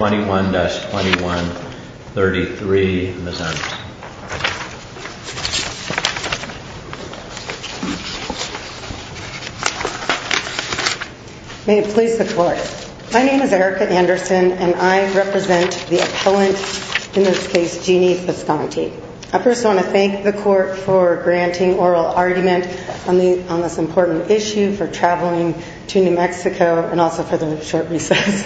May it please the Court, my name is Erica Anderson and I represent the appellant, in this case Jeanne Bisconte. I first want to thank the Court for granting oral argument on this important issue for traveling to New Mexico and also for the short recess.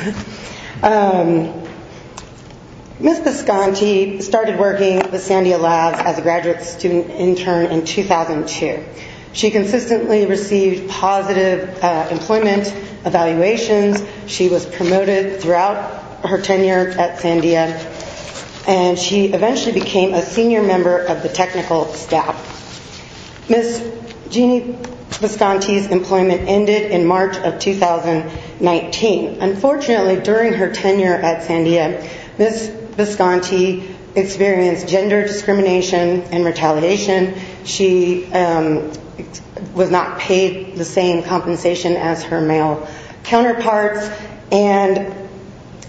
Ms. Bisconte started working with Sandia Labs as a graduate student intern in 2002. She consistently received positive employment evaluations, she was promoted throughout her Jeanne Bisconte's employment ended in March of 2019. Unfortunately during her tenure at Sandia, Ms. Bisconte experienced gender discrimination and retaliation. She was not paid the same compensation as her male counterparts and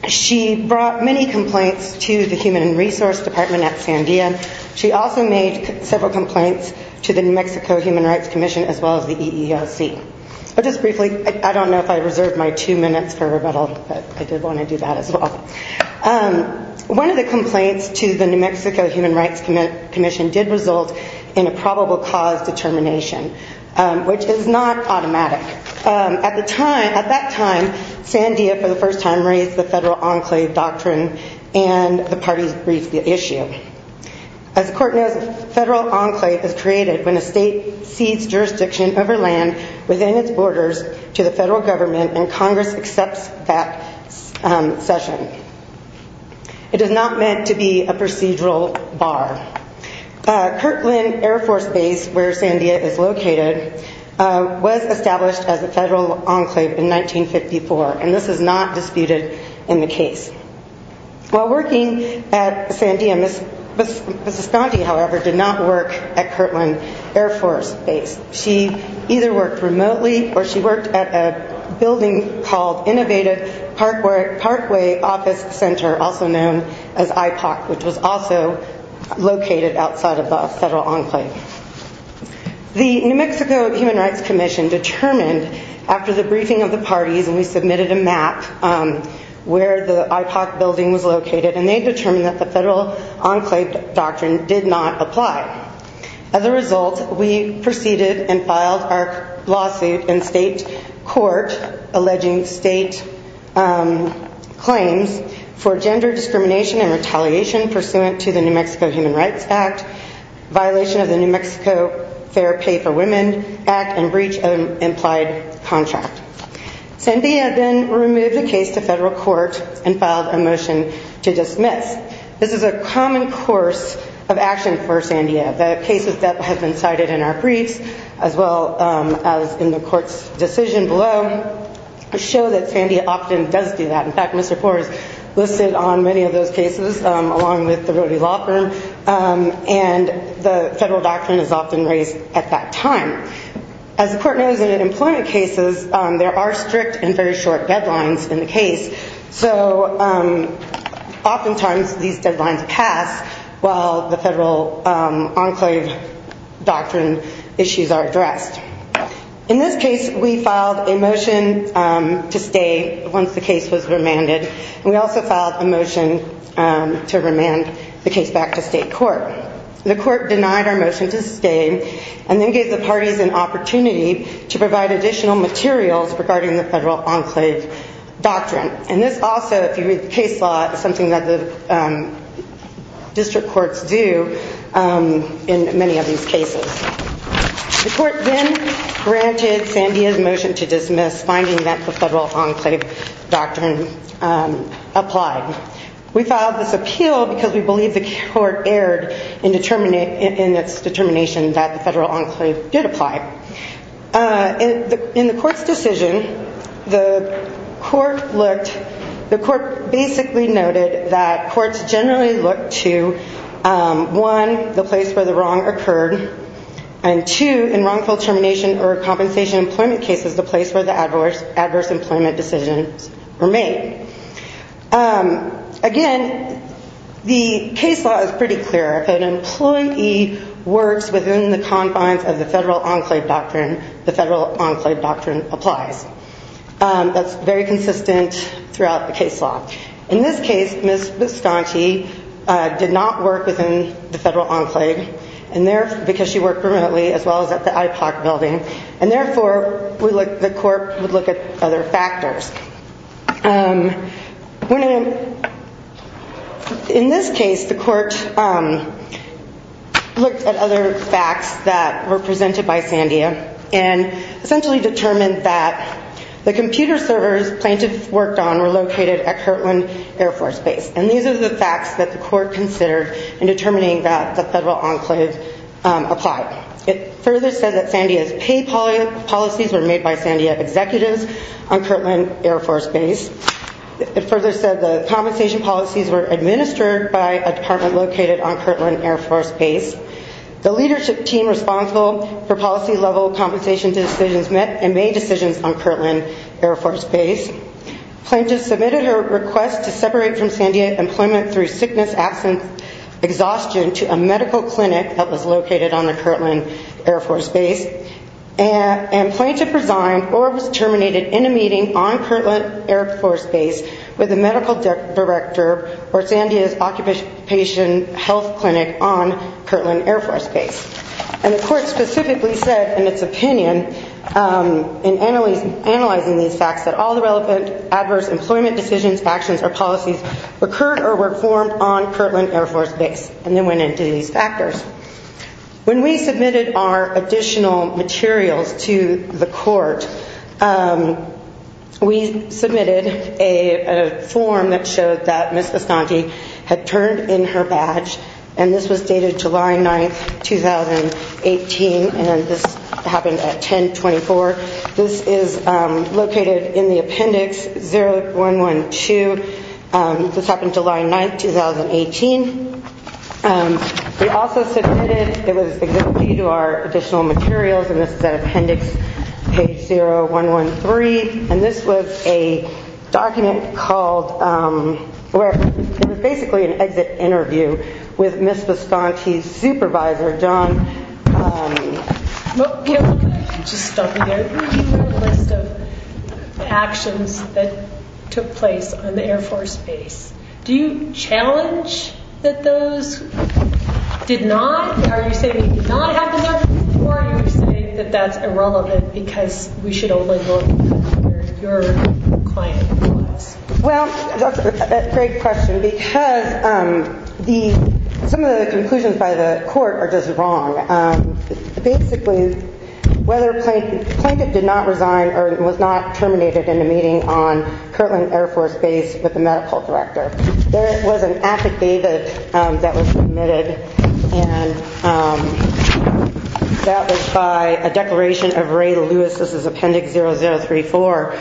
she brought many complaints to the Human Resource Department at Sandia. She also made several complaints to the New Mexico Human Rights Commission as well as the EEOC. Just briefly, I don't know if I reserved my two minutes for rebuttal, but I did want to do that as well. One of the complaints to the New Mexico Human Rights Commission did result in a probable cause determination, which is not automatic. At the time, at that time, Sandia for the first time raised the federal enclave doctrine and the parties briefed the issue. As the court knows, a federal enclave is created when a state cedes jurisdiction over land within its borders to the federal government and Congress accepts that session. It is not meant to be a procedural bar. Kirkland Air Force Base, where Sandia is located, was established as a federal enclave in 1954 and this is not While working at Sandia, Ms. Bisconte, however, did not work at Kirkland Air Force Base. She either worked remotely or she worked at a building called Innovative Parkway Office Center, also known as IPOC, which was also located outside of the federal enclave. The New Mexico Human Rights Commission determined after the briefing of the parties and we submitted a map where the IPOC building was located and they determined that the federal enclave doctrine did not apply. As a result, we proceeded and filed our lawsuit in state court alleging state claims for gender discrimination and retaliation pursuant to the New Mexico Human Rights Act, violation of the New Mexico Fair Pay for Women Act, and breach of an implied contract. Sandia then removed the case to federal court and filed a motion to dismiss. This is a common course of action for Sandia. The cases that have been cited in our briefs as well as in the court's decision below show that Sandia often does do that. In fact, Mr. Kaur has listed on many of those cases along with the Rody Law Firm and the federal doctrine is often raised at that time. As the court knows in employment cases, there are strict and very short deadlines in the case, so oftentimes these deadlines pass while the federal enclave doctrine issues are addressed. In this case, we filed a motion to stay once the case was remanded. We also filed a motion to remand the case back to state court. The court denied our motion to stay and then gave the parties an opportunity to provide additional materials regarding the federal enclave doctrine. This also, if you read the case law, is something that the district courts do in many of these cases. The court then granted Sandia's motion to dismiss, finding that the federal enclave doctrine applied. We filed this appeal because we believe the court erred in its determination that the federal enclave did apply. In the court's decision, the court basically noted that courts generally look to, one, the place where the wrong occurred, and two, in wrongful termination or compensation employment cases, the place where the adverse employment decisions were made. Again, the court's decision to dismiss the case law is pretty clear. If an employee works within the confines of the federal enclave doctrine, the federal enclave doctrine applies. That's very consistent throughout the case law. In this case, Ms. Bisconti did not work within the federal enclave because she worked remotely as well as at the IPOC building, and therefore the court would look at other factors. In this case, the court looked at other facts that were presented by Sandia and essentially determined that the computer servers plaintiffs worked on were located at Kirtland Air Force Base, and these are the facts that the court considered in determining that the federal enclave applied. It further said that Sandia's pay policies were made by Sandia executives on Kirtland Air Force Base. It further said the compensation policies were administered by a department located on Kirtland Air Force Base. The leadership team responsible for policy-level compensation decisions met and made decisions on Kirtland Air Force Base. Plaintiffs submitted her request to separate from Sandia employment through sickness, absence, exhaustion to a medical clinic that was located on the Kirtland Air Force Base, and plaintiff resigned or was terminated in a meeting on Kirtland Air Force Base with the medical director for Sandia's occupation health clinic on Kirtland Air Force Base. And the court specifically said in its opinion, in analyzing these facts, that all the relevant adverse employment decisions, actions, or policies occurred or were performed on Kirtland Air Force Base, and they went into these factors. When we submitted our additional materials to the court, we submitted a form that showed that Ms. Asante had turned in her badge, and this was dated July 9, 2018, and this happened at 10-24. This is located in the appendix 0112. This happened July 9, 2018. We also submitted, it was exhibited to our additional materials, and this is at appendix page 0113, and this was a document called, it was basically an exit interview with Ms. Asante's supervisor, John... Just stop me there. Do you have a list of actions that took place on the Air Force Base? Do you challenge that those did not, are you saying they did not have adverse employment or are you saying that that's irrelevant because we should only look at where your client was? Well, that's a great question because the, some of the conclusions by the court are just wrong. Basically, whether a plaintiff did not resign or was not terminated in a meeting on Kirtland Air Force Base with the medical director. There was an affidavit that was submitted, and that was by a declaration of Ray Lewis. This is appendix 0034,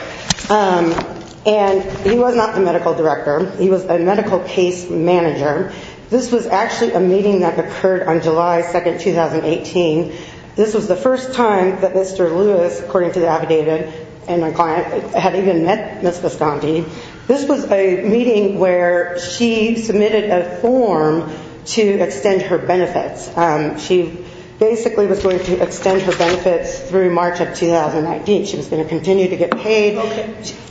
and he was not the medical director. He was a medical case manager. This was actually a meeting that occurred on July 2nd, 2018. This was the first time that Mr. Lewis, according to the affidavit and my client, had even met Ms. Asante. This was a meeting where she submitted a form to extend her benefits. She basically was going to extend her benefits through March of 2019. She was going to continue to get paid.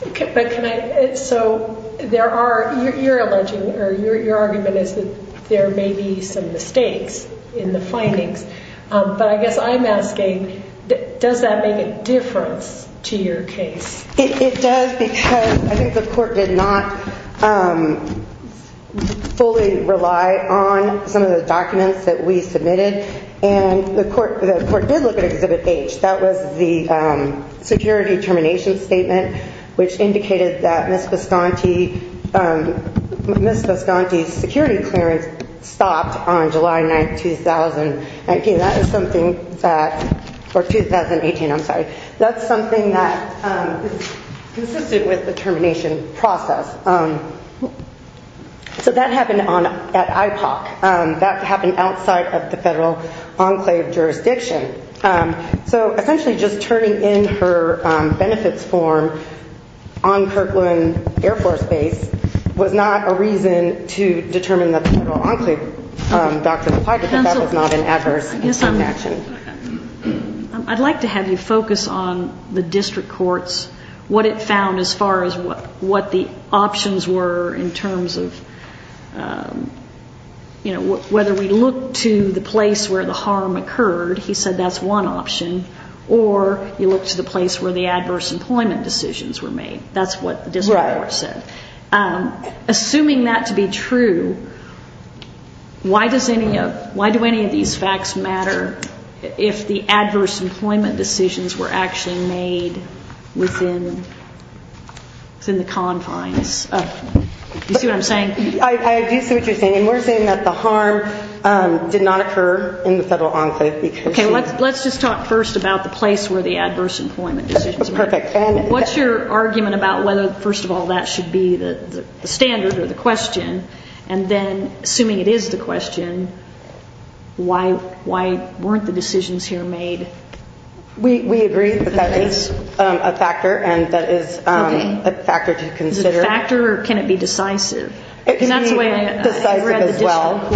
Okay, but can I, so there are, you're alleging, or your argument is that there may be some mistakes in the findings, but I guess I'm asking, does that make a difference to your case? It does because I think the court did not fully rely on some of the documents that we submitted, which indicated that Ms. Asante's security clearance stopped on July 9th, 2018. That is something that, or 2018, I'm sorry, that's something that is consistent with the termination process. So that happened at IPOC. That happened outside of the federal enclave jurisdiction. So essentially just turning in her benefits form on Kirkland Air Force Base was not a reason to determine the federal enclave document, but that was not an adverse action. I'd like to have you focus on the district courts, what it found as far as what the options were in terms of, you know, whether we look to the place where the harm occurred, he said that's one option, or you look to the place where the adverse employment decisions were made. That's what the district court said. Assuming that to be true, why do any of these facts matter if the adverse employment decisions were actually made within the confines of the federal enclave? Do you see what I'm saying? I do see what you're saying, and we're saying that the harm did not occur in the federal enclave because she... Let's just talk first about the place where the adverse employment decisions were made. What's your argument about whether, first of all, that should be the standard or the question, and then, assuming it is the question, why weren't the decisions here made? We agree that that is a factor, and that is a factor to consider. Is it a factor, or can it be decisive? It can be decisive as well.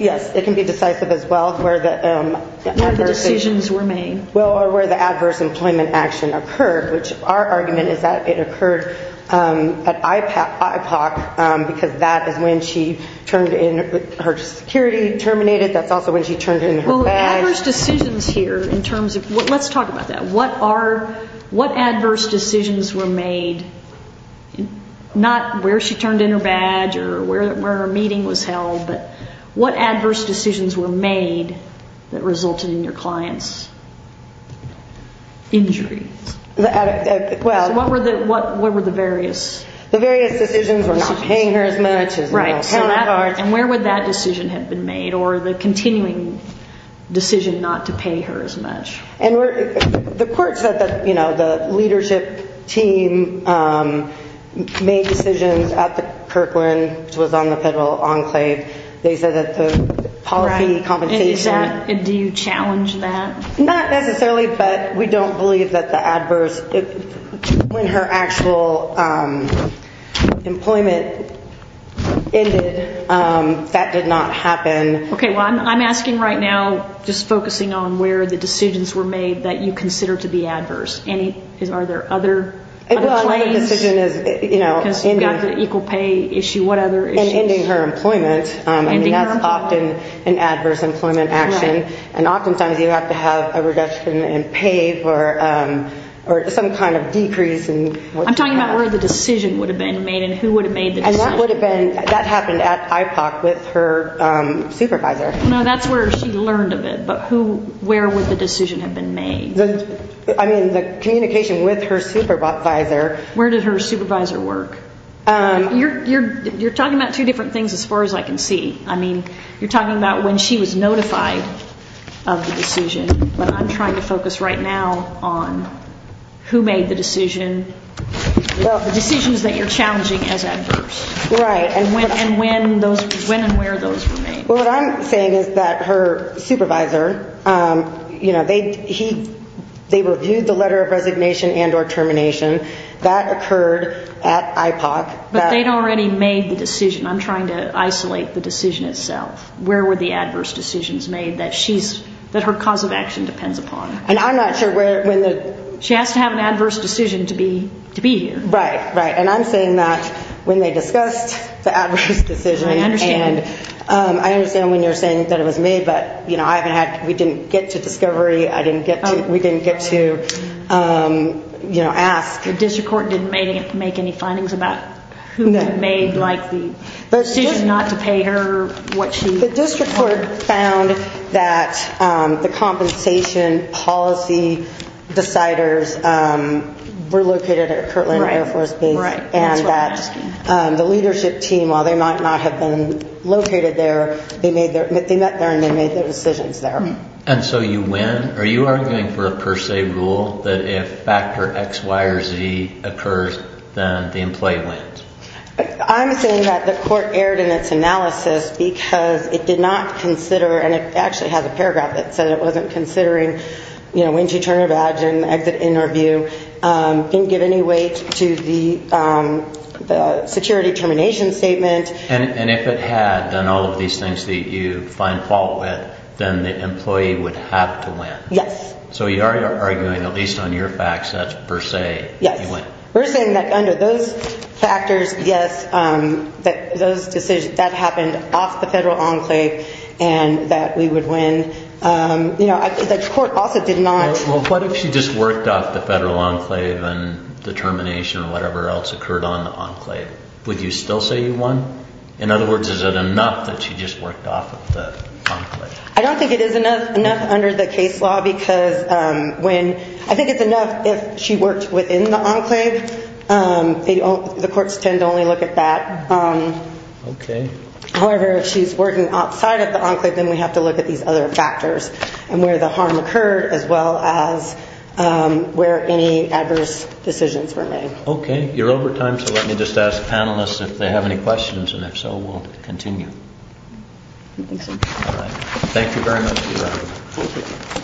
Yes, it can be decisive as well, where the... Where the decisions were made. Well, or where the adverse employment action occurred, which our argument is that it occurred at IPOC, because that is when she turned in, her security terminated. That's also when she turned in her badge. Well, adverse decisions here, in terms of, let's talk about that. What are, what adverse decisions were made, not where she turned in her badge or where her meeting was held, but what adverse decisions were made that resulted in your client's injury? Well... What were the various decisions? The various decisions were not paying her as much, as well, so that part... Right, and where would that decision have been made, or the continuing decision not to pay her as much? And where, the court said that, you know, the leadership team made decisions at the Kirkland, which was on the federal enclave. They said that the policy compensation... Right, and is that, and do you challenge that? Not necessarily, but we don't believe that the adverse, when her actual employment ended, that did not happen. Okay, well, I'm asking right now, just focusing on where the decisions were made that you consider to be adverse. Are there other claims? Well, another decision is, you know... Because you've got the equal pay issue, what other issues? And ending her employment. Ending her employment. I mean, that's often an adverse employment action. Right. And oftentimes, you have to have a reduction in pay for some kind of decrease in... decision. And that would have been, that happened at IPOC with her supervisor. No, that's where she learned of it, but who, where would the decision have been made? I mean, the communication with her supervisor... Where did her supervisor work? You're talking about two different things as far as I can see. I mean, you're talking about when she was notified of the decision, but I'm trying to focus right now on who made the decision, the decisions that you're challenging as adverse. Right. And when and where those were made. Well, what I'm saying is that her supervisor, you know, they reviewed the letter of resignation and or termination. That occurred at IPOC. But they'd already made the decision. I'm trying to isolate the decision itself. Where were the adverse decisions made that she's, that her cause of action depends upon? And I'm not sure where, when the... She has to have an adverse decision to be, to be here. Right, right. And I'm saying that when they discussed the adverse decision... I understand. I understand when you're saying that it was made, but you know, I haven't had, we didn't get to discovery. I didn't get to, we didn't get to, you know, ask. The district court didn't make any findings about who made like the decision not to pay her, what she... The district court found that the compensation policy deciders were located at Kirtland Air Force Base. Right, right. And that the leadership team, while they might not have been located there, they made their, they met there and they made their decisions there. And so you win? Are you arguing for a per se rule that if factor X, Y, or Z occurs, then the employee wins? I'm saying that the court erred in its analysis because it did not consider, and it actually has a paragraph that said it wasn't considering, you know, when to turn a badge and exit in or view, didn't give any weight to the security termination statement. And if it had, then all of these things that you find fault with, then the employee would have to win. Yes. So you are arguing, at least on your facts, that's per se, you win. We're saying that under those factors, yes, that those decisions, that happened off the federal enclave and that we would win. You know, the court also did not... Well, what if she just worked off the federal enclave and the termination or whatever else occurred on the enclave, would you still say you won? In other words, is it enough that she just worked off of the enclave? I don't think it is enough under the case law because when, I think it's enough if she worked within the enclave, the courts tend to only look at that. Okay. However, if she's working outside of the enclave, then we have to look at these other factors and where the harm occurred as well as where any adverse decisions were made. Okay. You're over time, so let me just ask panelists if they have any questions, and if so, we'll continue. I think so. All right. Thank you very much, Your Honor. Thank you.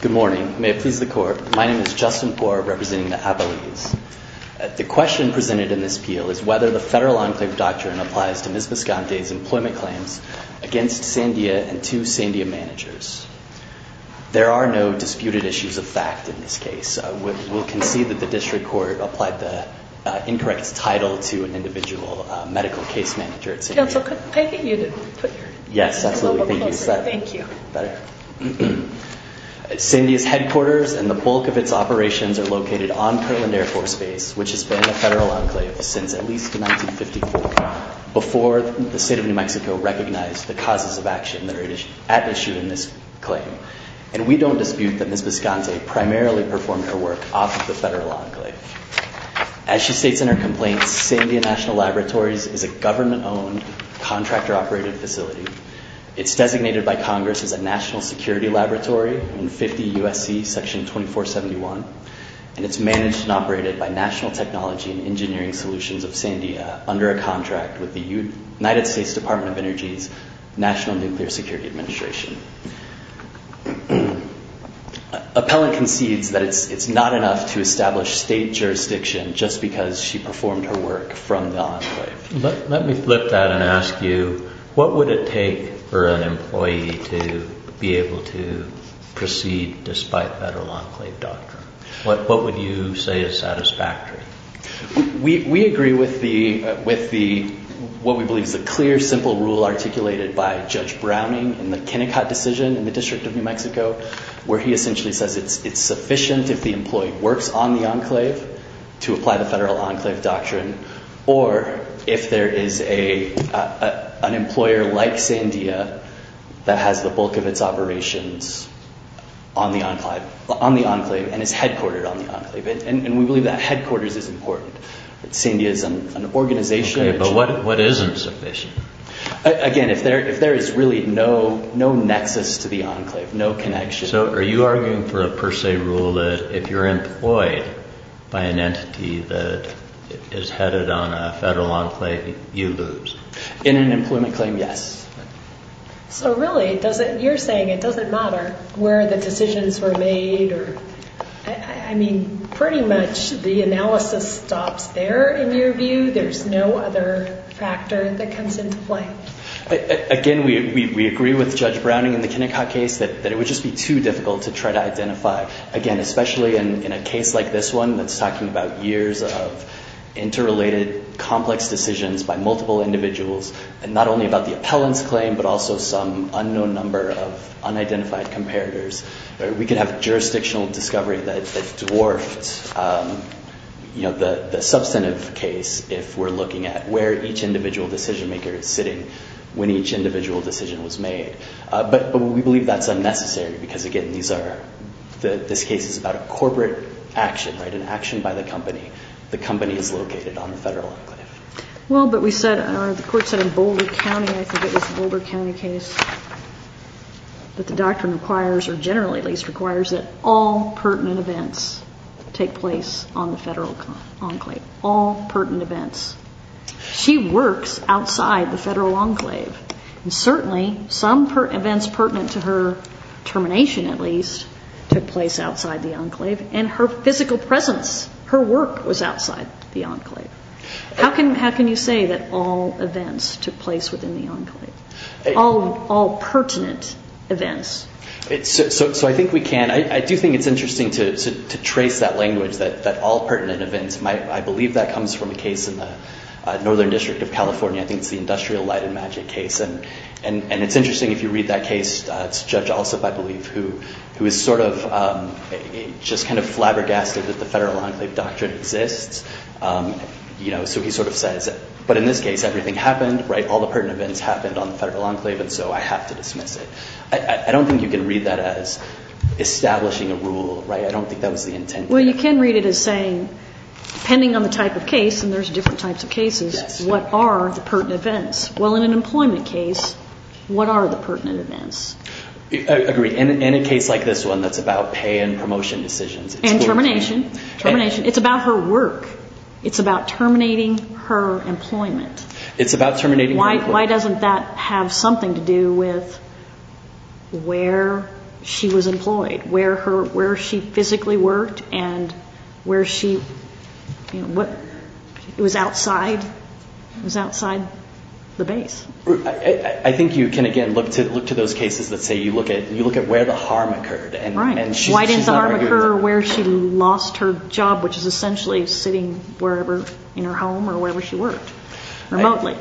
Good morning. May it please the Court. My name is Justin Gore representing the Avalese. The question presented in this appeal is whether the federal enclave doctrine applies to Ms. Visconti's employment claims against Sandia and to Sandia managers. There are no disputed issues of fact in this case. We'll concede that the district court applied the incorrect title to an individual medical case manager at Sandia. Counsel, could I get you to put your mobile closer? Yes, absolutely. Thank you. Thank you. Better? Sandia's headquarters and the bulk of its operations are located on Perlin Air Force Base, which has been a federal enclave since at least 1954, before the state of New Mexico recognized the causes of action that are at issue in this claim. And we don't dispute that Ms. Visconti primarily performed her work off of the federal enclave. As she states in her complaint, Sandia National Laboratories is a government-owned, contractor-operated facility. It's designated by Congress as a national security laboratory in 50 U.S.C. section 2471. And it's managed and operated by National Technology and Engineering Solutions of Sandia under a contract with the United States Department of Energy's National Nuclear Security Administration. Appellant concedes that it's not enough to establish state jurisdiction just because she performed her work from the enclave. Let me flip that and ask you, what would it take for an employee to be able to proceed despite federal enclave doctrine? What would you say is satisfactory? We agree with what we believe is a clear, simple rule articulated by Judge Browning in the Kennecott decision in the District of New Mexico where he essentially says it's sufficient if the employee works on the enclave to apply the federal enclave doctrine or if there is an employer like Sandia that has the bulk of its operations on the enclave and is headquartered on the enclave. And we believe that headquarters is important. Sandia is an organization. Okay, but what isn't sufficient? Again, if there is really no nexus to the enclave, no connection. So are you arguing for a per se rule that if you're employed by an entity that is headed on a federal enclave, you lose? In an employment claim, yes. So really, you're saying it doesn't matter where the decisions were made? I mean, pretty much the analysis stops there in your view? There's no other factor that comes into play? Again, we agree with Judge Browning in the Kennecott case that it would just be too difficult to try to identify, again, especially in a case like this one that's talking about years of interrelated complex decisions by multiple individuals and not only about the appellant's claim but also some unknown number of unidentified comparators. We could have jurisdictional discovery that dwarfed the substantive case if we're looking at where each individual decision-maker is sitting when each individual decision was made. But we believe that's unnecessary because, again, this case is about a corporate action, an action by the company. The company is located on the federal enclave. Well, but the court said in Boulder County. I think it was a Boulder County case. But the doctrine requires, or generally at least requires, that all pertinent events take place on the federal enclave, all pertinent events. She works outside the federal enclave. And certainly, some events pertinent to her termination, at least, took place outside the enclave. And her physical presence, her work, was outside the enclave. How can you say that all events took place within the enclave, all pertinent events? So I think we can. I do think it's interesting to trace that language, that all pertinent events. I believe that comes from a case in the Northern District of California. I think it's the Industrial Light and Magic case. And it's interesting if you read that case. It's Judge Alsop, I believe, who is sort of just kind of flabbergasted that the federal enclave doctrine exists. So he sort of says, but in this case, everything happened. All the pertinent events happened on the federal enclave, and so I have to dismiss it. I don't think you can read that as establishing a rule. I don't think that was the intent there. Well, you can read it as saying, depending on the type of case, and there's different types of cases, what are the pertinent events? Well, in an employment case, what are the pertinent events? I agree. In a case like this one that's about pay and promotion decisions. And termination. Termination. It's about her work. It's about terminating her employment. It's about terminating her employment. Why doesn't that have something to do with where she was employed, where she physically worked, and where she was outside the base? I think you can, again, look to those cases that say you look at where the harm occurred. Right. Why didn't the harm occur where she lost her job, which is essentially sitting wherever in her home or wherever she worked. Remotely.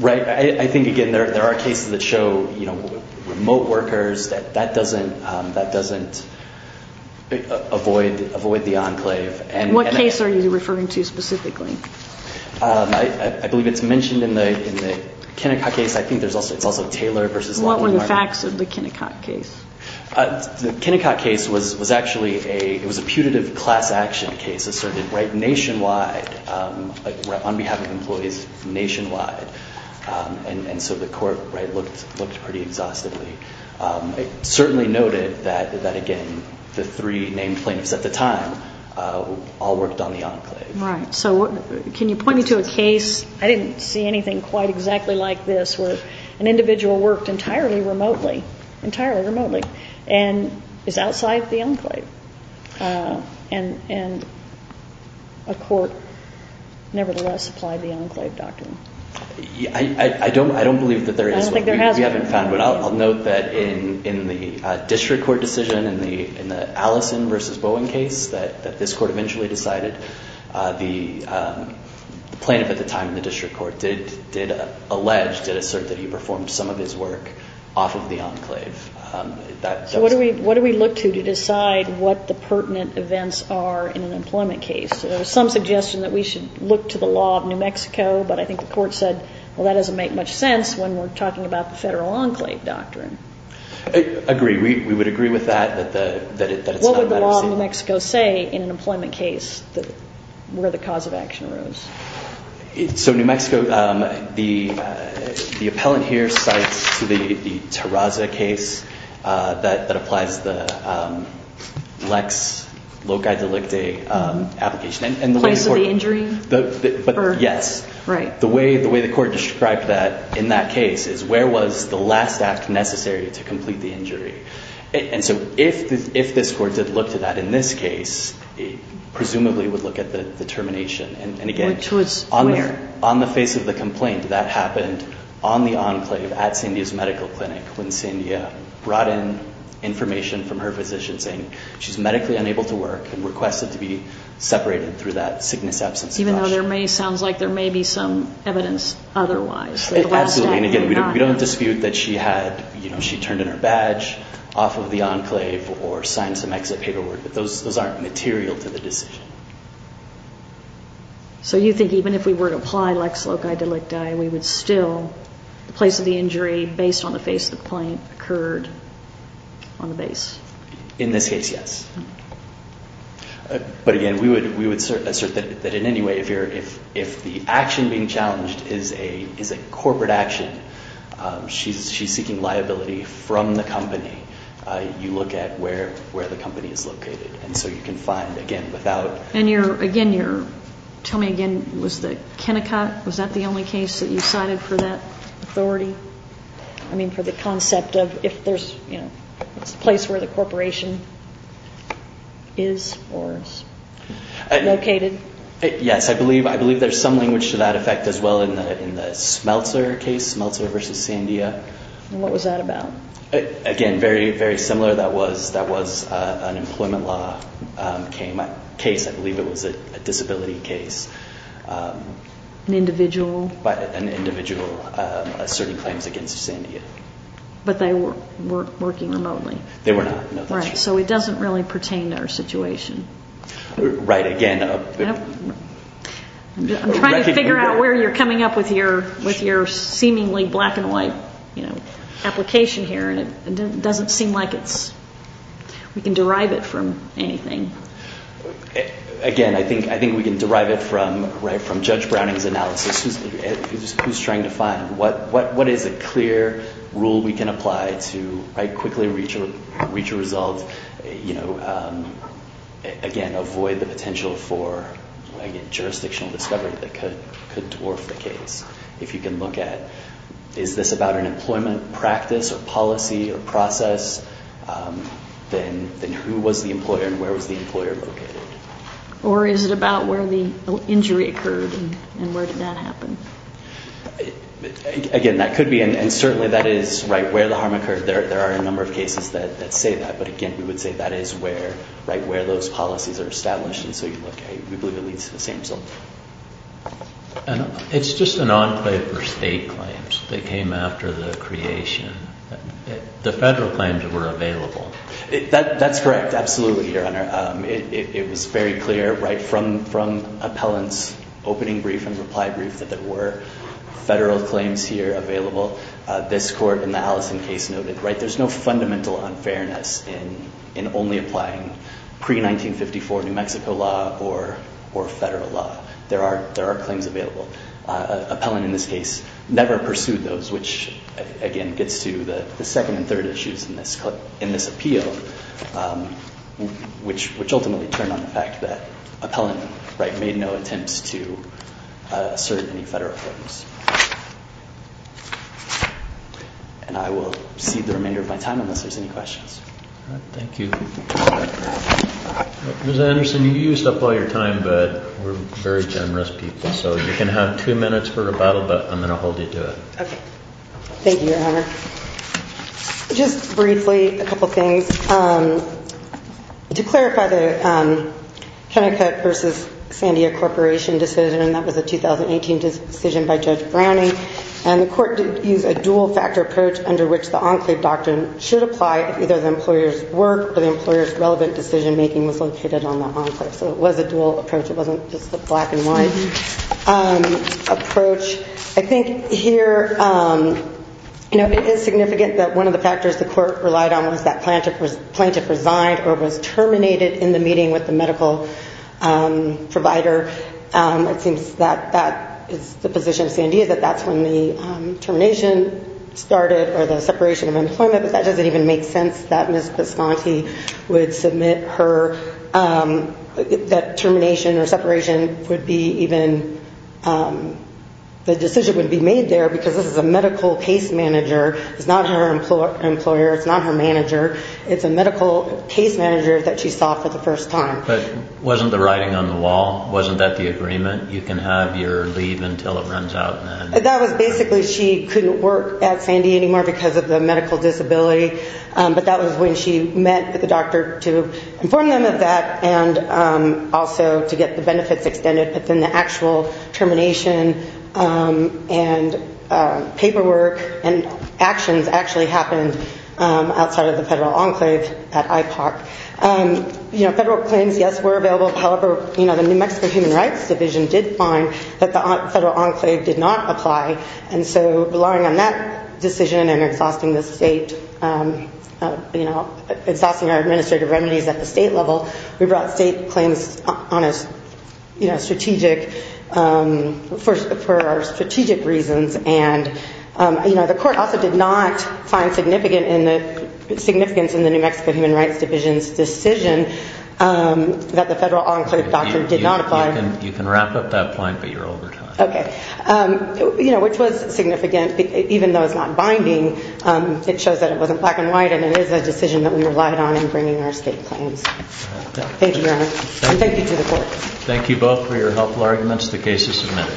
Right. I think, again, there are cases that show remote workers, that doesn't avoid the enclave. And what case are you referring to specifically? I believe it's mentioned in the Kennecott case. I think it's also Taylor versus Lawton. What were the facts of the Kennecott case? The Kennecott case was actually a putative class action case asserted nationwide on behalf of employees nationwide. And so the court looked pretty exhaustively. It certainly noted that, again, the three named plaintiffs at the time all worked on the enclave. Right. So can you point me to a case? I didn't see anything quite exactly like this where an individual worked entirely remotely. Entirely remotely. And is outside the enclave. And a court nevertheless applied the enclave doctrine. I don't believe that there is one. I don't think there has been. We haven't found one. I'll note that in the district court decision in the Allison versus Bowen case that this court eventually decided, the plaintiff at the time in the district court did allege, did assert that he performed some of his work off of the enclave. So what do we look to to decide what the pertinent events are in an employment case? There was some suggestion that we should look to the law of New Mexico, but I think the court said, well, that doesn't make much sense when we're talking about the federal enclave doctrine. I agree. We would agree with that. What would the law of New Mexico say in an employment case where the cause of action arose? So New Mexico, the appellant here cites the Terraza case that applies the lex loci delicti application. Applies to the injury? Yes. Right. The way the court described that in that case is, where was the last act necessary to complete the injury? And so if this court did look to that in this case, it presumably would look at the termination. Which was where? On the face of the complaint, that happened on the enclave at Sandia's medical clinic when Sandia brought in information from her physician saying she's medically unable to work and requested to be separated through that sickness absence. Even though there may sound like there may be some evidence otherwise. Absolutely. And again, we don't dispute that she turned in her badge off of the enclave or signed some exit paperwork, but those aren't material to the decision. So you think even if we were to apply lex loci delicti, we would still, the place of the injury based on the face of the complaint occurred on the base? In this case, yes. But again, we would assert that in any way, if the action being challenged is a corporate action, she's seeking liability from the company, you look at where the company is located. And so you can find, again, without... And you're, again, you're, tell me again, was the Kennecott, was that the only case that you cited for that authority? I mean, for the concept of if there's, you know, it's a place where the corporation is or is located? Yes, I believe there's some language to that effect as well in the Smeltzer case, Smeltzer versus Sandia. And what was that about? Again, very, very similar, that was an employment law case, I believe it was a disability case. An individual? An individual asserting claims against Sandia. But they were working remotely? They were not, no. Right, so it doesn't really pertain to her situation. Right, again... I'm trying to figure out where you're coming up with your seemingly black and white, you know, here and it doesn't seem like it's, we can derive it from anything. Again, I think we can derive it from, right, from Judge Browning's analysis, who's trying to find what is a clear rule we can apply to, right, quickly reach a result, you know, again, avoid the potential for, again, jurisdictional discovery that could dwarf the case. If you can look at, is this about an employment practice or policy or process, then who was the employer and where was the employer located? Or is it about where the injury occurred and where did that happen? Again, that could be, and certainly that is, right, where the harm occurred, there are a number of cases that say that, but again, we would say that is where, right, where those policies are established and so you look at, we believe it leads to the same result. And it's just an enclave for state claims that came after the creation. The federal claims were available. That's correct, absolutely, Your Honor. It was very clear, right, from appellant's opening brief and reply brief that there were federal claims here available. This court in the Allison case noted, right, there's no fundamental unfairness in only applying pre-1954 New Mexico law or federal law. There are claims available. Appellant in this case never pursued those, which, again, gets to the second and third issues in this appeal, which ultimately turned on the fact that appellant, right, made no attempts to assert any federal claims. And I will cede the remainder of my time unless there's any questions. All right, thank you. Ms. Anderson, you used up all your time, but we're very generous people, so you can have two minutes for rebuttal, but I'm going to hold you to it. Okay. Thank you, Your Honor. Just briefly, a couple things. To clarify the Kennecott versus Sandia Corporation decision, and that was a 2018 decision by Judge Browning, and the court used a dual-factor approach under which the enclave doctrine should apply if either the employer's work or the employer's relevant decision-making was located on the enclave. So it was a dual approach. It wasn't just a black-and-white approach. I think here, you know, it is significant that one of the factors the court relied on was that plaintiff resigned or was terminated in the meeting with the medical provider. It seems that that is the position of Sandia, that that's when the termination started or the separation of employment, but that doesn't even make sense that Ms. Pisconti would submit her, that termination or separation would be even, the decision would be made there because this is a medical case manager. It's not her employer. It's not her manager. It's a medical case manager that she saw for the first time. But wasn't the writing on the wall? Wasn't that the agreement? You can have your leave until it runs out? That was basically she couldn't work at Sandy anymore because of the medical disability, but that was when she met with the doctor to inform them of that and also to get the benefits extended. But then the actual termination and paperwork and actions actually happened outside of the federal enclave at IPOC. You know, federal claims, yes, were available. However, you know, the New Mexico Human Rights Division did find that the federal enclave did not apply, and so relying on that decision and exhausting the state, you know, exhausting our administrative remedies at the state level, we brought state claims on as, you know, strategic for our strategic reasons. And, you know, the court also did not find significance in the New Mexico Human Rights Division's decision that the federal enclave doctrine did not apply. You can wrap up that point, but you're over time. Okay. You know, which was significant, even though it's not binding. It shows that it wasn't black and white, and it is a decision that we relied on in bringing our state claims. Thank you, Your Honor. And thank you to the courts. Thank you both for your helpful arguments. The case is submitted.